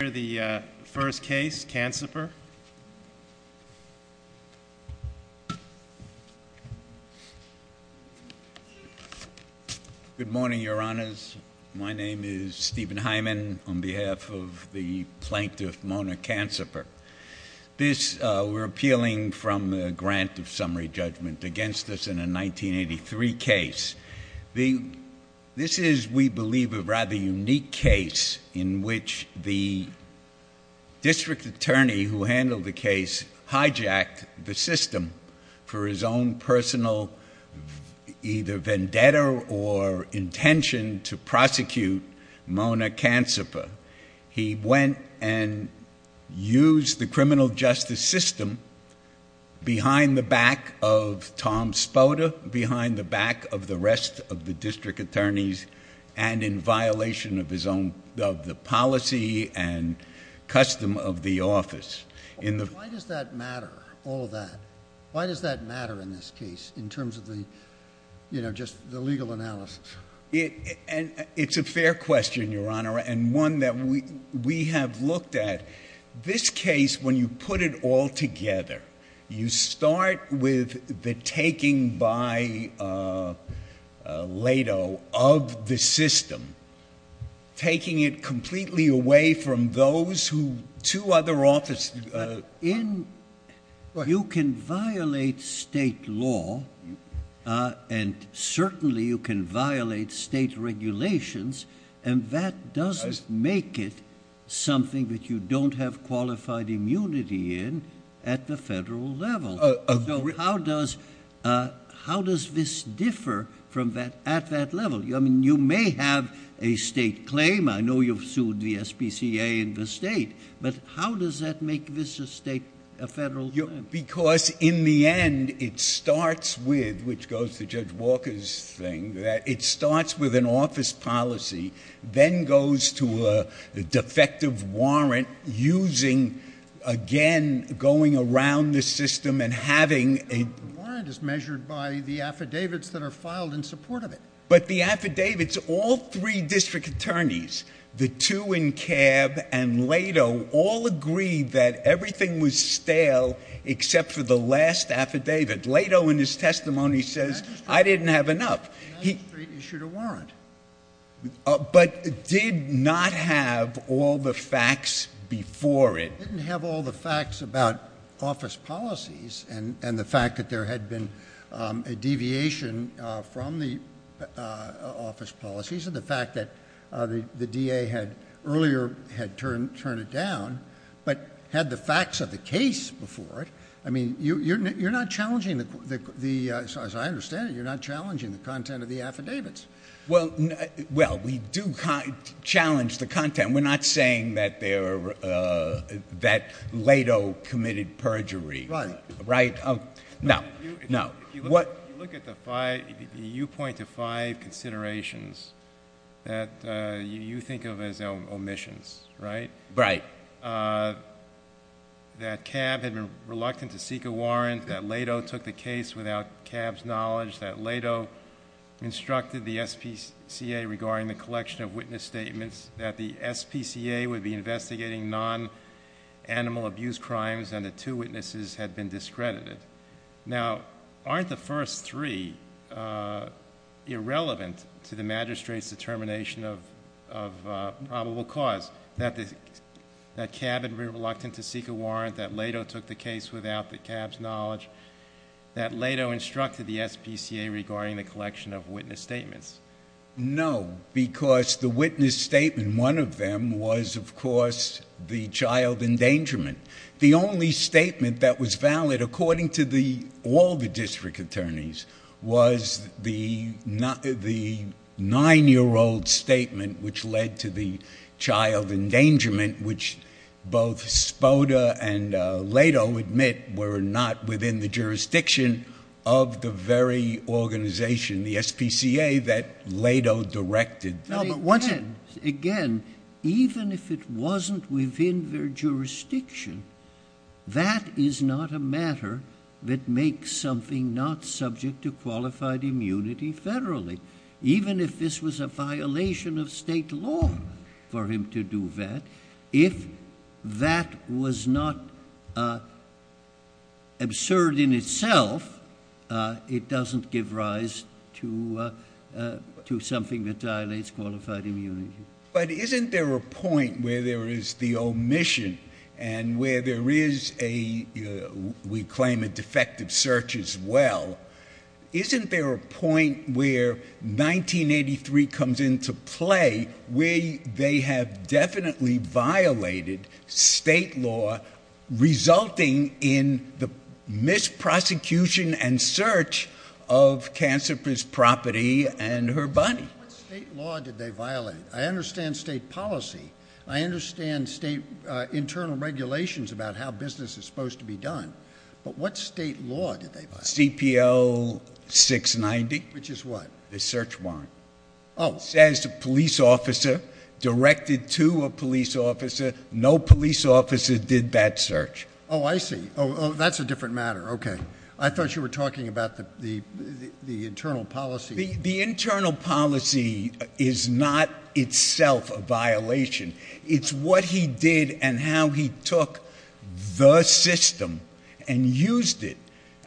Here's the first case, Canciper. Good morning, your honors. My name is Stephen Hyman on behalf of the plaintiff, Mona Canciper. This, we're appealing from the grant of summary judgment against us in a 1983 case. The, this is, we believe, a rather unique case in which the district attorney who handled the case hijacked the system for his own personal either vendetta or intention to prosecute Mona Canciper. He went and used the criminal justice system behind the back of Tom Spoda, behind the back of the rest of the district attorneys and in violation of his own, of the policy and custom of the office. In the... Why does that matter, all of that? Why does that matter in this case in terms of the, you know, just the legal analysis? It, and it's a fair question, your honor, and one that we, we have looked at. This case, when you put it all together, you start with the taking by LATO of the system, taking it completely away from those who, two other offices... You can violate state law and certainly you can violate state regulations and that doesn't make it something that you don't have qualified immunity in at the federal level. So how does, how does this differ from that, at that level? I mean, you may have a state claim, I know you've sued the SPCA in the state, but how does that make this a state, a federal claim? Because in the end, it starts with, which goes to Judge Walker's thing, that it goes to a defective warrant using, again, going around the system and having... The warrant is measured by the affidavits that are filed in support of it. But the affidavits, all three district attorneys, the two in CAB and LATO, all agree that everything was stale except for the last affidavit. LATO, in his testimony, says, I didn't have enough. The magistrate issued a warrant. But did not have all the facts before it. Didn't have all the facts about office policies and the fact that there had been a deviation from the office policies and the fact that the DA had earlier had turned it down, but had the facts of the case before it. I mean, you're not challenging the, as I understand it, you're not challenging the content of the affidavits. Well, we do challenge the content. We're not saying that LATO committed perjury. Right. Right? No. No. If you look at the five, you point to five considerations that you think of as omissions, right? Right. That CAB had been reluctant to seek a warrant. That LATO took the case without CAB's knowledge. That LATO instructed the SPCA regarding the collection of witness statements. That the SPCA would be investigating non-animal abuse crimes and the two witnesses had been discredited. Now, aren't the first three irrelevant to the magistrate's determination of probable cause? That CAB had been reluctant to seek a warrant. That LATO took the case without the CAB's knowledge. That LATO instructed the SPCA regarding the collection of witness statements. No, because the witness statement, one of them, was, of course, the child endangerment. The only statement that was valid, according to all the district attorneys, was the nine-year-old statement which led to the child endangerment, which both Spoda and LATO admit were not within the jurisdiction of the very organization, the SPCA, that LATO directed. No, but once again, even if it wasn't within their jurisdiction, that is not a matter that makes something not subject to qualified immunity federally. Even if this was a violation of state law for him to do that, if that was not absurd in itself, it doesn't give rise to something that violates qualified immunity. But isn't there a point where there is the omission and where there is a, we claim a defective search as well. Isn't there a point where 1983 comes into play where they have definitely violated state law resulting in the misprosecution and search of Cancer Pris property and her body? What state law did they violate? I understand state policy. I understand state internal regulations about how business is supposed to be done. But what state law did they violate? CPO 690. Which is what? The search warrant. Oh. Says the police officer directed to a police officer. No police officer did that search. Oh, I see. Oh, that's a different matter. Okay. I thought you were talking about the internal policy. The internal policy is not itself a violation. It's what he did and how he took the system and used it.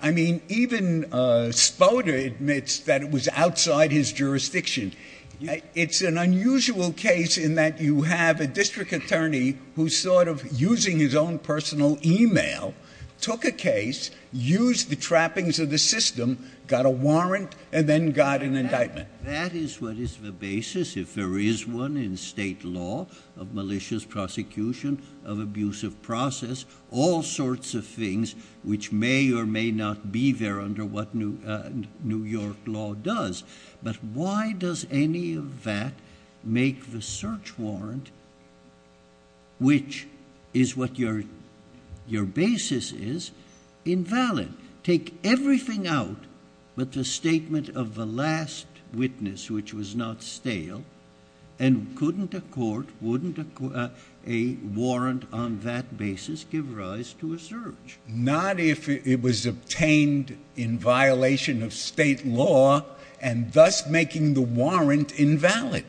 I mean, even Spoda admits that it was outside his jurisdiction. It's an unusual case in that you have a district attorney who's sort of using his own personal email, took a case, used the trappings of the system, got a warrant, and then got an indictment. That is what is the basis if there is one in state law of malicious prosecution, of abusive process, all sorts of things which may or may not be there under what New York law does. But why does any of that make the search warrant, which is what your basis is, invalid? Take everything out but the statement of the last witness, which was not stale, and couldn't a court, wouldn't a warrant on that basis give rise to a search? Not if it was obtained in violation of state law and thus making the warrant invalid.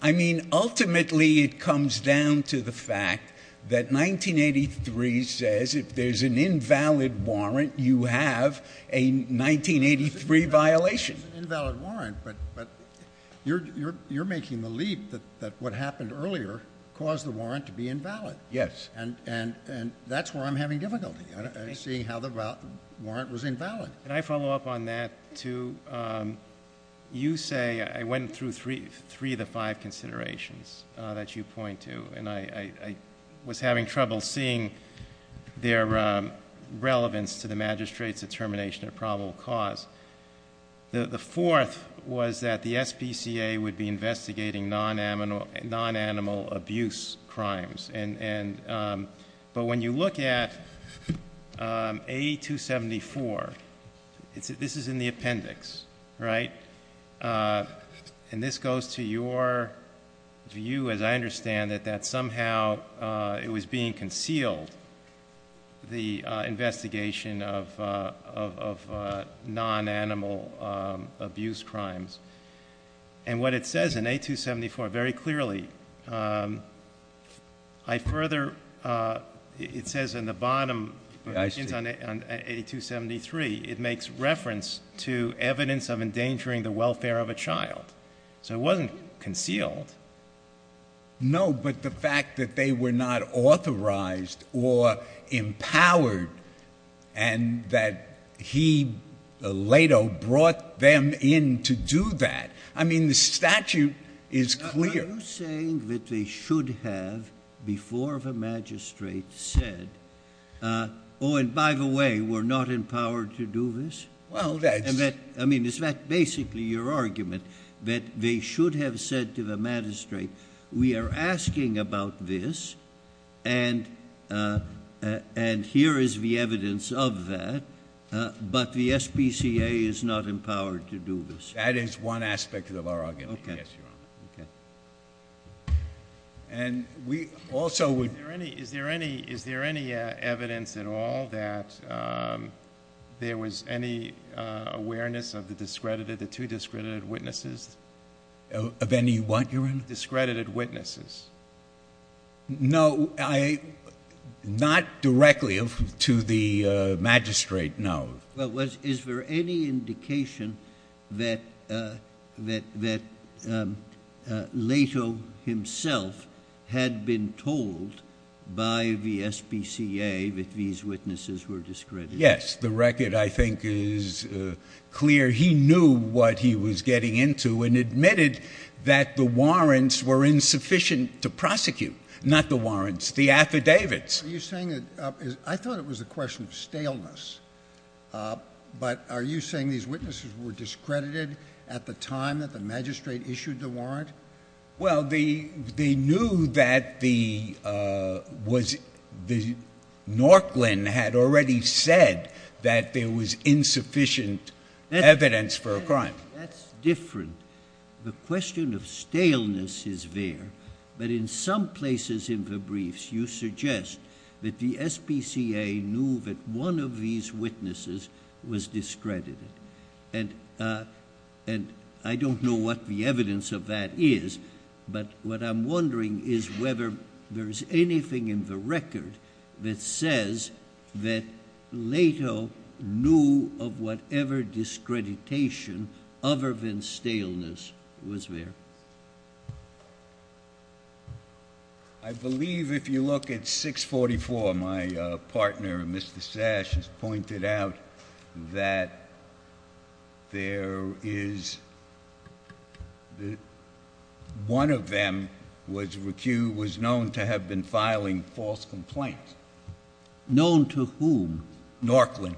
I mean, ultimately it comes down to the fact that 1983 says if there's an invalid warrant, you have a 1983 violation. It's an invalid warrant, but you're making the leap that what happened earlier caused the warrant to be invalid. Yes. And that's where I'm having difficulty, seeing how the warrant was invalid. Can I follow up on that, too? You say, I went through three of the five considerations that you point to, and I was having trouble seeing their relevance to the magistrate's determination of probable cause. The fourth was that the SPCA would be investigating non-animal abuse crimes. But when you look at A274, this is in the appendix, right? And this goes to your view, as I understand it, that somehow it was being concealed, the investigation of non-animal abuse crimes. And what it says in A274 very clearly, I further, it says in the bottom- I see. On A273, it makes reference to evidence of endangering the welfare of a child. So it wasn't concealed. No, but the fact that they were not authorized or empowered and that he later brought them in to do that. I mean, the statute is clear. Are you saying that they should have, before the magistrate, said, oh, and by the way, we're not empowered to do this? Well, that's- We are asking about this, and here is the evidence of that, but the SPCA is not empowered to do this. That is one aspect of our argument, yes, Your Honor. Okay. And we also would- Is there any evidence at all that there was any awareness of the discredited, the two discredited witnesses? Of any what, Your Honor? Discredited witnesses. No, not directly to the magistrate, no. Well, is there any indication that Lato himself had been told by the SPCA that these witnesses were discredited? Yes. The record, I think, is clear. He knew what he was getting into and admitted that the warrants were insufficient to prosecute. Not the warrants, the affidavits. Are you saying that- I thought it was a question of staleness, but are you saying these witnesses were discredited at the time that the magistrate issued the warrant? Well, they knew that the Norklin had already said that there was insufficient evidence for a crime. That's different. The question of staleness is there, but in some places in the briefs you suggest that the SPCA knew that one of these witnesses was discredited. And I don't know what the evidence of that is, but what I'm wondering is whether there is anything in the record that says that Lato knew of whatever discreditation other than staleness was there. I believe if you look at 644, my partner, Mr. Sash, has pointed out that there is... One of them was known to have been filing false complaints. Known to whom? Norklin.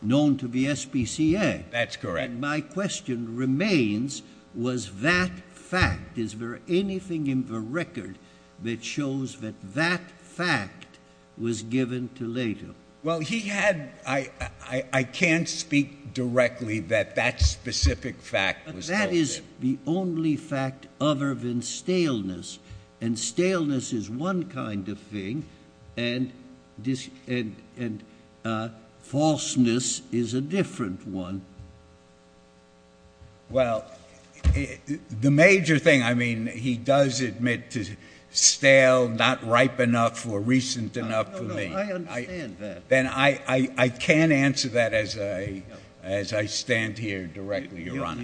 Known to the SPCA? That's correct. My question remains, was that fact? Is there anything in the record that shows that that fact was given to Lato? Well, he had... I can't speak directly that that specific fact was told to him. But that is the only fact other than staleness, and staleness is one kind of thing, and falseness is a different one. Well, the major thing, I mean, he does admit to stale, not ripe enough or recent enough for me. No, no, I understand that. Then I can't answer that as I stand here directly, Your Honor.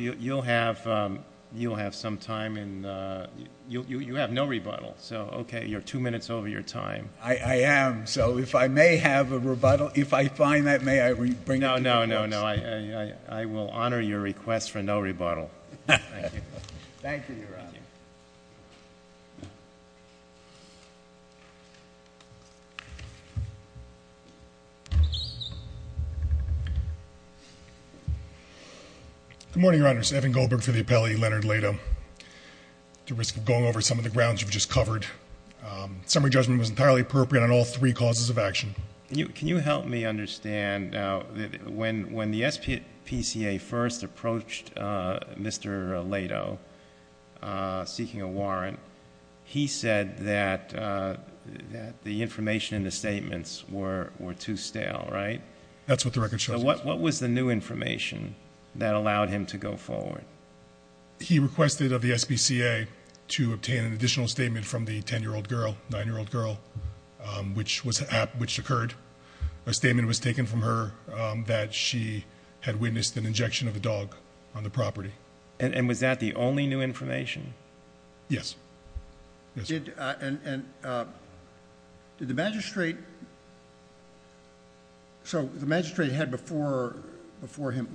You'll have some time, and you have no rebuttal, so, OK, you're two minutes over your time. I am. So if I may have a rebuttal, if I find that, may I bring it to your notice? No, no, no, no. I will honor your request for no rebuttal. Thank you. Thank you, Your Honor. Good morning, Your Honors. Evan Goldberg for the appellee, Leonard Lato. At the risk of going over some of the grounds you've just covered, summary judgment was entirely appropriate on all three causes of action. Can you help me understand, when the SPCA first approached Mr. Lato seeking a warrant, he said that the information in the statements were too stale, right? That's what the record shows. So what was the new information that allowed him to go forward? He requested of the SPCA to obtain an additional statement from the 10-year-old girl, 9-year-old girl, which occurred, a statement was taken from her that she had witnessed an injection of a dog on the property. And was that the only new information? Yes. Yes. Did the magistrate... So the magistrate had before him...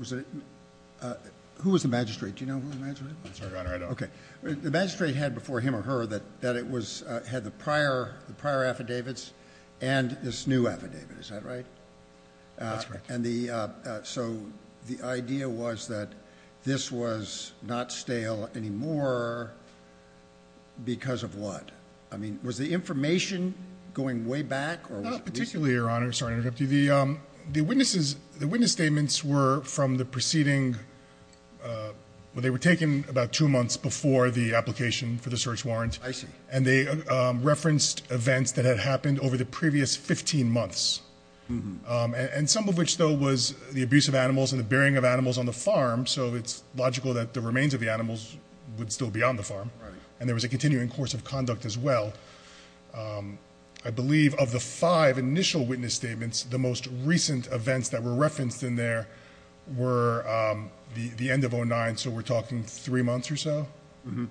Who was the magistrate? Do you know who the magistrate was? I'm sorry, Your Honor, I don't. Okay. The magistrate had before him or her that it had the prior affidavits and this new affidavit. Is that right? That's right. So the idea was that this was not stale anymore because of what? I mean, was the information going way back? Particularly, Your Honor, sorry to interrupt you. The witness statements were from the preceding... I see. And they referenced events that had happened over the previous 15 months, and some of which, though, was the abuse of animals and the burying of animals on the farm, so it's logical that the remains of the animals would still be on the farm. Right. And there was a continuing course of conduct as well. I believe of the five initial witness statements, the most recent events that were referenced in there were the end of 2009, so we're talking three months or so? Uh-huh.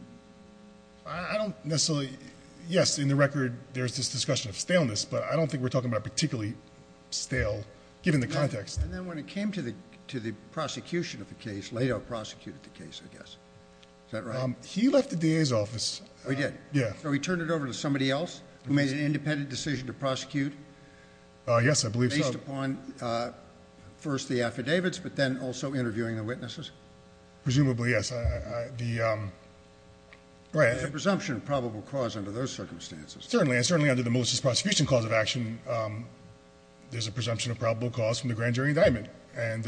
I don't necessarily... Yes, in the record, there's this discussion of staleness, but I don't think we're talking about particularly stale, given the context. And then when it came to the prosecution of the case, Lado prosecuted the case, I guess. Is that right? He left the DA's office. Oh, he did? Yeah. So he turned it over to somebody else who made an independent decision to prosecute? Yes, I believe so. Based upon, first, the affidavits, but then also interviewing the witnesses? Presumably, yes. The... Right, a presumption of probable cause under those circumstances. Certainly. And certainly under the Melissa's prosecution clause of action, there's a presumption of probable cause from the grand jury indictment. And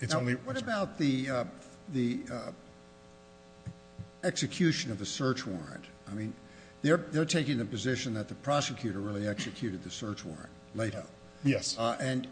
it's only... Now, what about the execution of the search warrant? I mean, they're taking the position that the prosecutor really executed the search warrant, Lado. Yes. And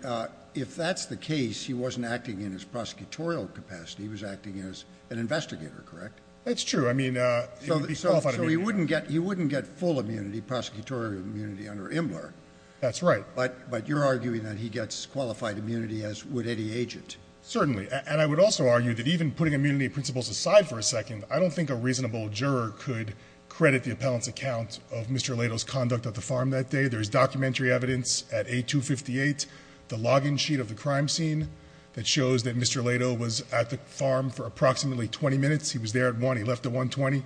if that's the case, he wasn't acting in his prosecutorial capacity. He was acting as an investigator, correct? That's true. I mean, he would be qualified immunity. So he wouldn't get full immunity, prosecutorial immunity, under Imler? That's right. But you're arguing that he gets qualified immunity, as would any agent? Certainly. And I would also argue that even putting immunity principles aside for a second, I don't think a reasonable juror could credit the appellant's account of Mr. Lado's conduct at the farm that day. There's documentary evidence at A258, the log-in sheet of the crime scene, that shows that Mr. Lado was at the farm for approximately 20 minutes. He was there at 1. He left at 1.20.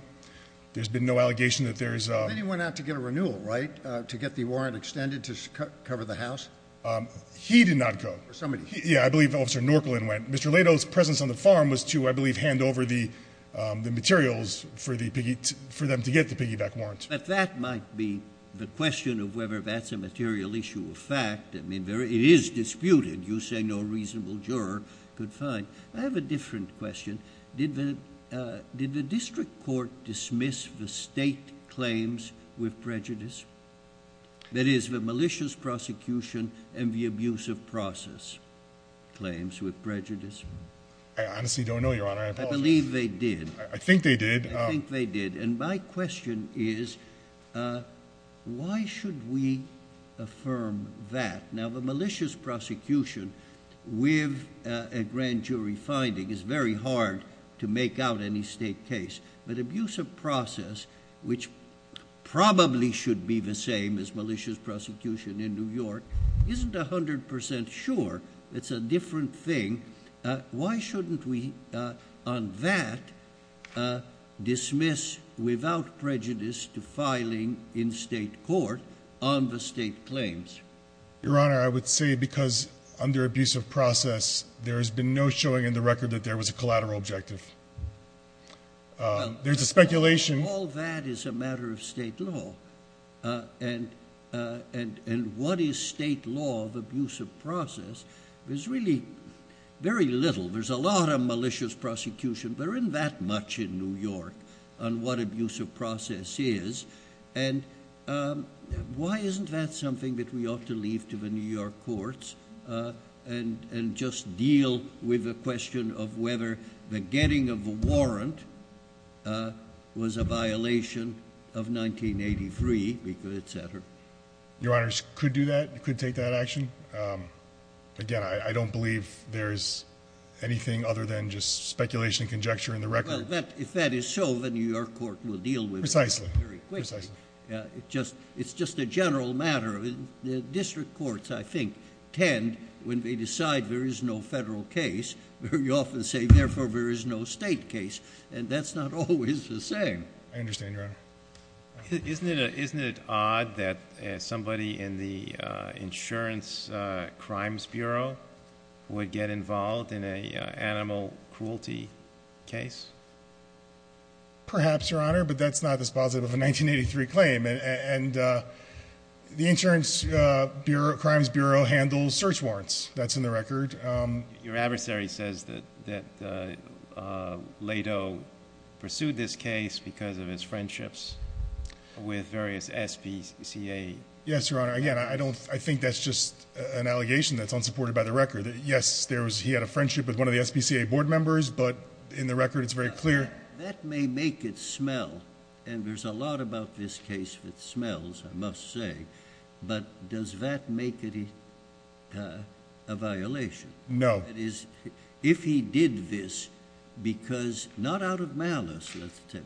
There's been no allegation that there's... Then he went out to get a renewal, right, to get the warrant extended to cover the house? He did not go. Somebody... Yeah, I believe Officer Norkelin went. Mr. Lado's presence on the farm was to, I believe, hand over the materials for them to get the piggyback warrant. But that might be the question of whether that's a material issue of fact. I mean, it is disputed. You say no reasonable juror could find. I have a different question. Did the district court dismiss the state claims with prejudice? That is, the malicious prosecution and the abuse of process claims with prejudice? I honestly don't know, Your Honor. I apologize. I believe they did. I think they did. I think they did. And my question is, why should we affirm that? Now, the malicious prosecution with a grand jury finding is very hard to make out any state case. But abuse of process, which probably should be the same as malicious prosecution in New York, isn't 100% sure. It's a different thing. Why shouldn't we, on that, dismiss without prejudice to filing in state court on the state claims? Your Honor, I would say because under abuse of process, there has been no showing in the record that there was a collateral objective. There's a speculation. All that is a matter of state law. And what is state law of abuse of process? There's really very little. There's a lot of malicious prosecution. There isn't that much in New York on what abuse of process is. And why isn't that something that we ought to leave to the New York courts and just deal with the question of whether the getting of a warrant was a violation of 1983, et cetera? Your Honor, I could do that. I could take that action. Again, I don't believe there is anything other than just speculation and conjecture in the record. Well, if that is so, the New York court will deal with it. Precisely. It's just a general matter. The district courts, I think, tend, when they decide there is no federal case, very often say, therefore, there is no state case. And that's not always the same. I understand, Your Honor. Isn't it odd that somebody in the Insurance Crimes Bureau would get involved in an animal cruelty case? Perhaps, Your Honor. But that's not dispositive of a 1983 claim. And the Insurance Crimes Bureau handles search warrants. That's in the record. Your adversary says that Lado pursued this case because of his friendships with various SPCA. Yes, Your Honor. Again, I think that's just an allegation that's unsupported by the record. Yes, he had a friendship with one of the SPCA board members. But in the record, it's very clear. That may make it smell. And there's a lot about this case that smells, I must say. But does that make it a violation? No. If he did this because, not out of malice,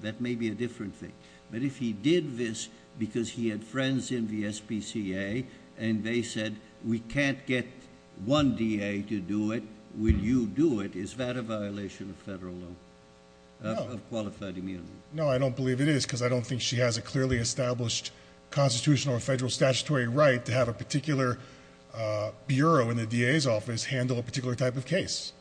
that may be a different thing. But if he did this because he had friends in the SPCA and they said, we can't get one DA to do it, will you do it, is that a violation of federal law? No. Of qualified immunity? No, I don't believe it is because I don't think she has a clearly established constitutional or federal statutory right to have a particular bureau in the DA's office handle a particular type of case.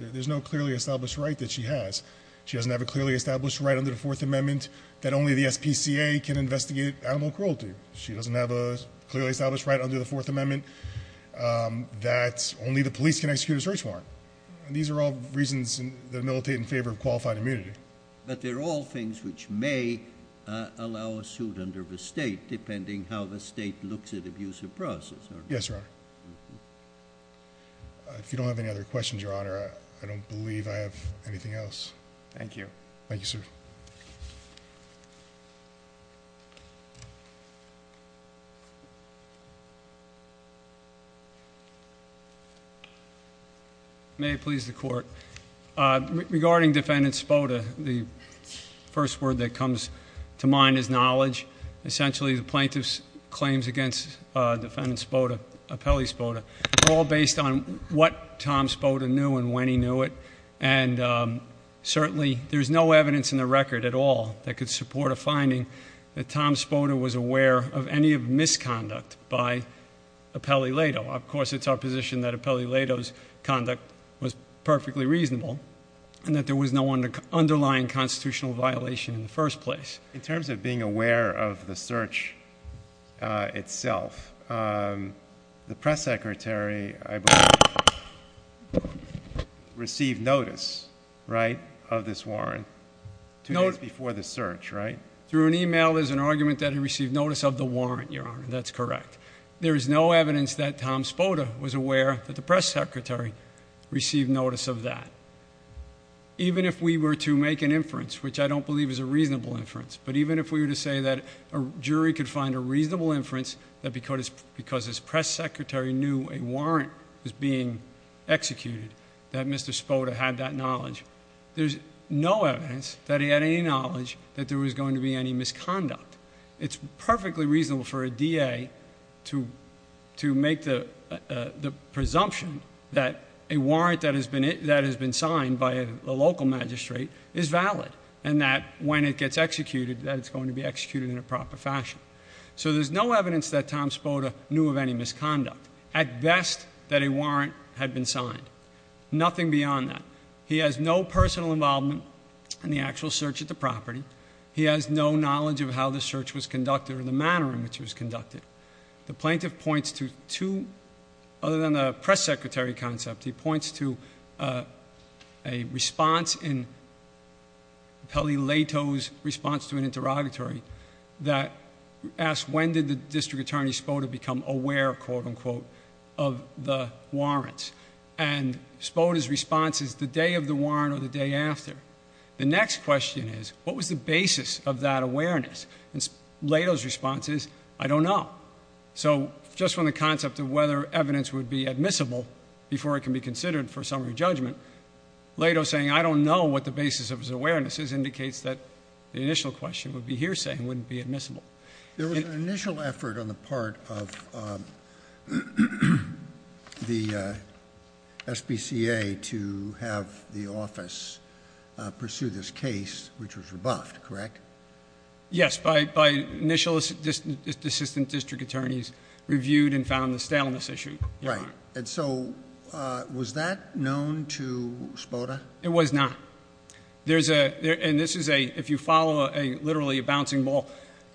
There's no clearly established right that she has. She doesn't have a clearly established right under the Fourth Amendment that only the SPCA can investigate animal cruelty. She doesn't have a clearly established right under the Fourth Amendment that only the police can execute a search warrant. These are all reasons that militate in favor of qualified immunity. But they're all things which may allow a suit under the state, depending how the state looks at abuse of process. Yes, Your Honor. If you don't have any other questions, Your Honor, I don't believe I have anything else. Thank you. Thank you, sir. May it please the Court. Regarding Defendant Spoda, the first word that comes to mind is knowledge. Essentially, the plaintiff's claims against Defendant Spoda, Apelli Spoda, are all based on what Tom Spoda knew and when he knew it. And certainly, there's no evidence in the record at all that could support a finding that Tom Spoda was aware of any misconduct by Apelli Leto. Of course, it's our position that Apelli Leto's conduct was perfectly reasonable and that there was no underlying constitutional violation in the first place. In terms of being aware of the search itself, the press secretary, I believe, received notice, right, of this warrant two days before the search, right? Through an email is an argument that he received notice of the warrant, Your Honor. That's correct. There is no evidence that Tom Spoda was aware that the press secretary received notice of that. Even if we were to make an inference, which I don't believe is a reasonable inference, but even if we were to say that a jury could find a reasonable inference that because his press secretary knew a warrant was being executed, that Mr. Spoda had that knowledge, there's no evidence that he had any knowledge that there was going to be any misconduct. It's perfectly reasonable for a DA to make the presumption that a warrant that has been signed by a local magistrate is valid. And that when it gets executed, that it's going to be executed in a proper fashion. So there's no evidence that Tom Spoda knew of any misconduct. At best, that a warrant had been signed. Nothing beyond that. He has no personal involvement in the actual search of the property. He has no knowledge of how the search was conducted or the manner in which it was conducted. The plaintiff points to two, other than the press secretary concept, he points to a response in Pelli Leto's response to an interrogatory that asked when did the District Attorney Spoda become aware, quote unquote, of the warrants. And Spoda's response is the day of the warrant or the day after. The next question is what was the basis of that awareness? And Leto's response is I don't know. So just from the concept of whether evidence would be admissible before it can be considered for summary judgment, Leto saying I don't know what the basis of his awareness is indicates that the initial question would be hearsay and wouldn't be admissible. There was an initial effort on the part of the SBCA to have the office pursue this case, which was rebuffed, correct? Yes. By initial assistant district attorneys reviewed and found the staleness issue. Right. And so was that known to Spoda? It was not. There's a and this is a if you follow a literally a bouncing ball.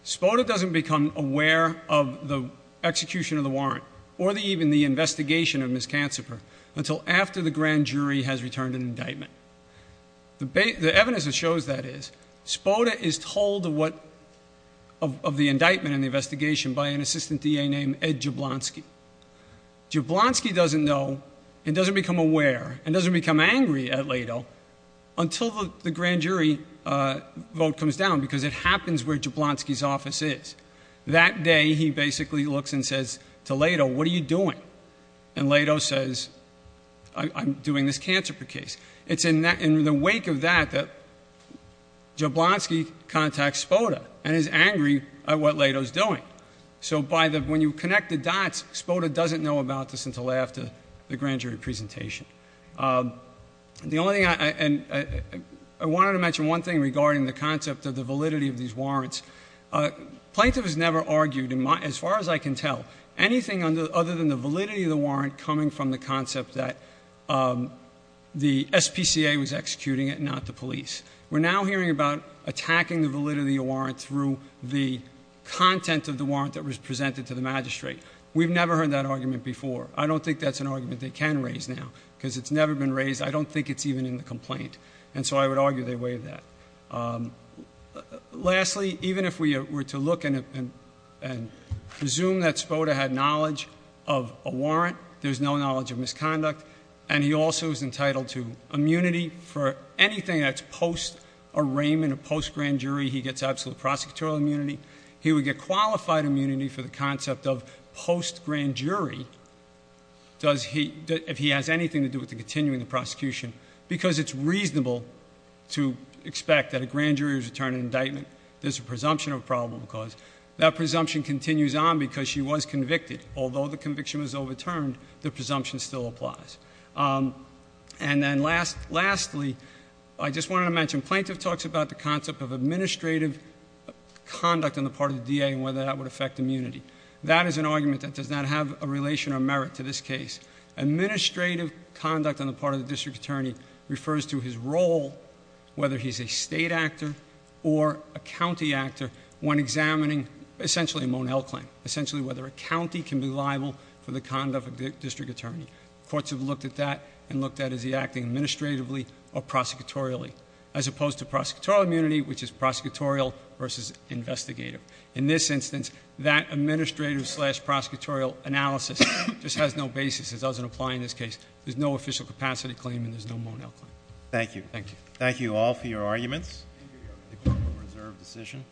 Spoda doesn't become aware of the execution of the warrant or the even the investigation of Ms. Cancifer until after the grand jury has returned an indictment. The evidence that shows that is Spoda is told what of the indictment in the investigation by an assistant D.A. named Ed Jablonski. Jablonski doesn't know and doesn't become aware and doesn't become angry at Leto until the grand jury vote comes down because it happens where Jablonski's office is. That day, he basically looks and says to Leto, what are you doing? And Leto says, I'm doing this Cancifer case. It's in the wake of that that Jablonski contacts Spoda and is angry at what Leto is doing. So by the when you connect the dots, Spoda doesn't know about this until after the grand jury presentation. The only thing I and I wanted to mention one thing regarding the concept of the validity of these warrants. Plaintiff has never argued in my as far as I can tell anything other than the validity of the warrant coming from the concept that the S.P.C.A. was executing it, not the police. We're now hearing about attacking the validity of warrant through the content of the warrant that was presented to the magistrate. We've never heard that argument before. I don't think that's an argument they can raise now because it's never been raised. I don't think it's even in the complaint. And so I would argue they waive that. Lastly, even if we were to look and presume that Spoda had knowledge of a warrant, there's no knowledge of misconduct. And he also is entitled to immunity for anything that's post arraignment, a post grand jury. He gets absolute prosecutorial immunity. He would get qualified immunity for the concept of post grand jury. Does he if he has anything to do with the continuing the prosecution because it's reasonable to expect that a grand jury is returning indictment. There's a presumption of probable cause. That presumption continues on because she was convicted. Although the conviction was overturned, the presumption still applies. And then lastly, I just wanted to mention, plaintiff talks about the concept of administrative conduct on the part of the DA and whether that would affect immunity. That is an argument that does not have a relation or merit to this case. Administrative conduct on the part of the district attorney refers to his role, whether he's a state actor or a county actor when examining essentially a Monel claim. Essentially whether a county can be liable for the conduct of the district attorney. Courts have looked at that and looked at is he acting administratively or prosecutorially. As opposed to prosecutorial immunity, which is prosecutorial versus investigative. In this instance, that administrative slash prosecutorial analysis just has no basis. It doesn't apply in this case. There's no official capacity claim and there's no Monel claim. Thank you. Thank you. Thank you all for your arguments. The court will reserve decision.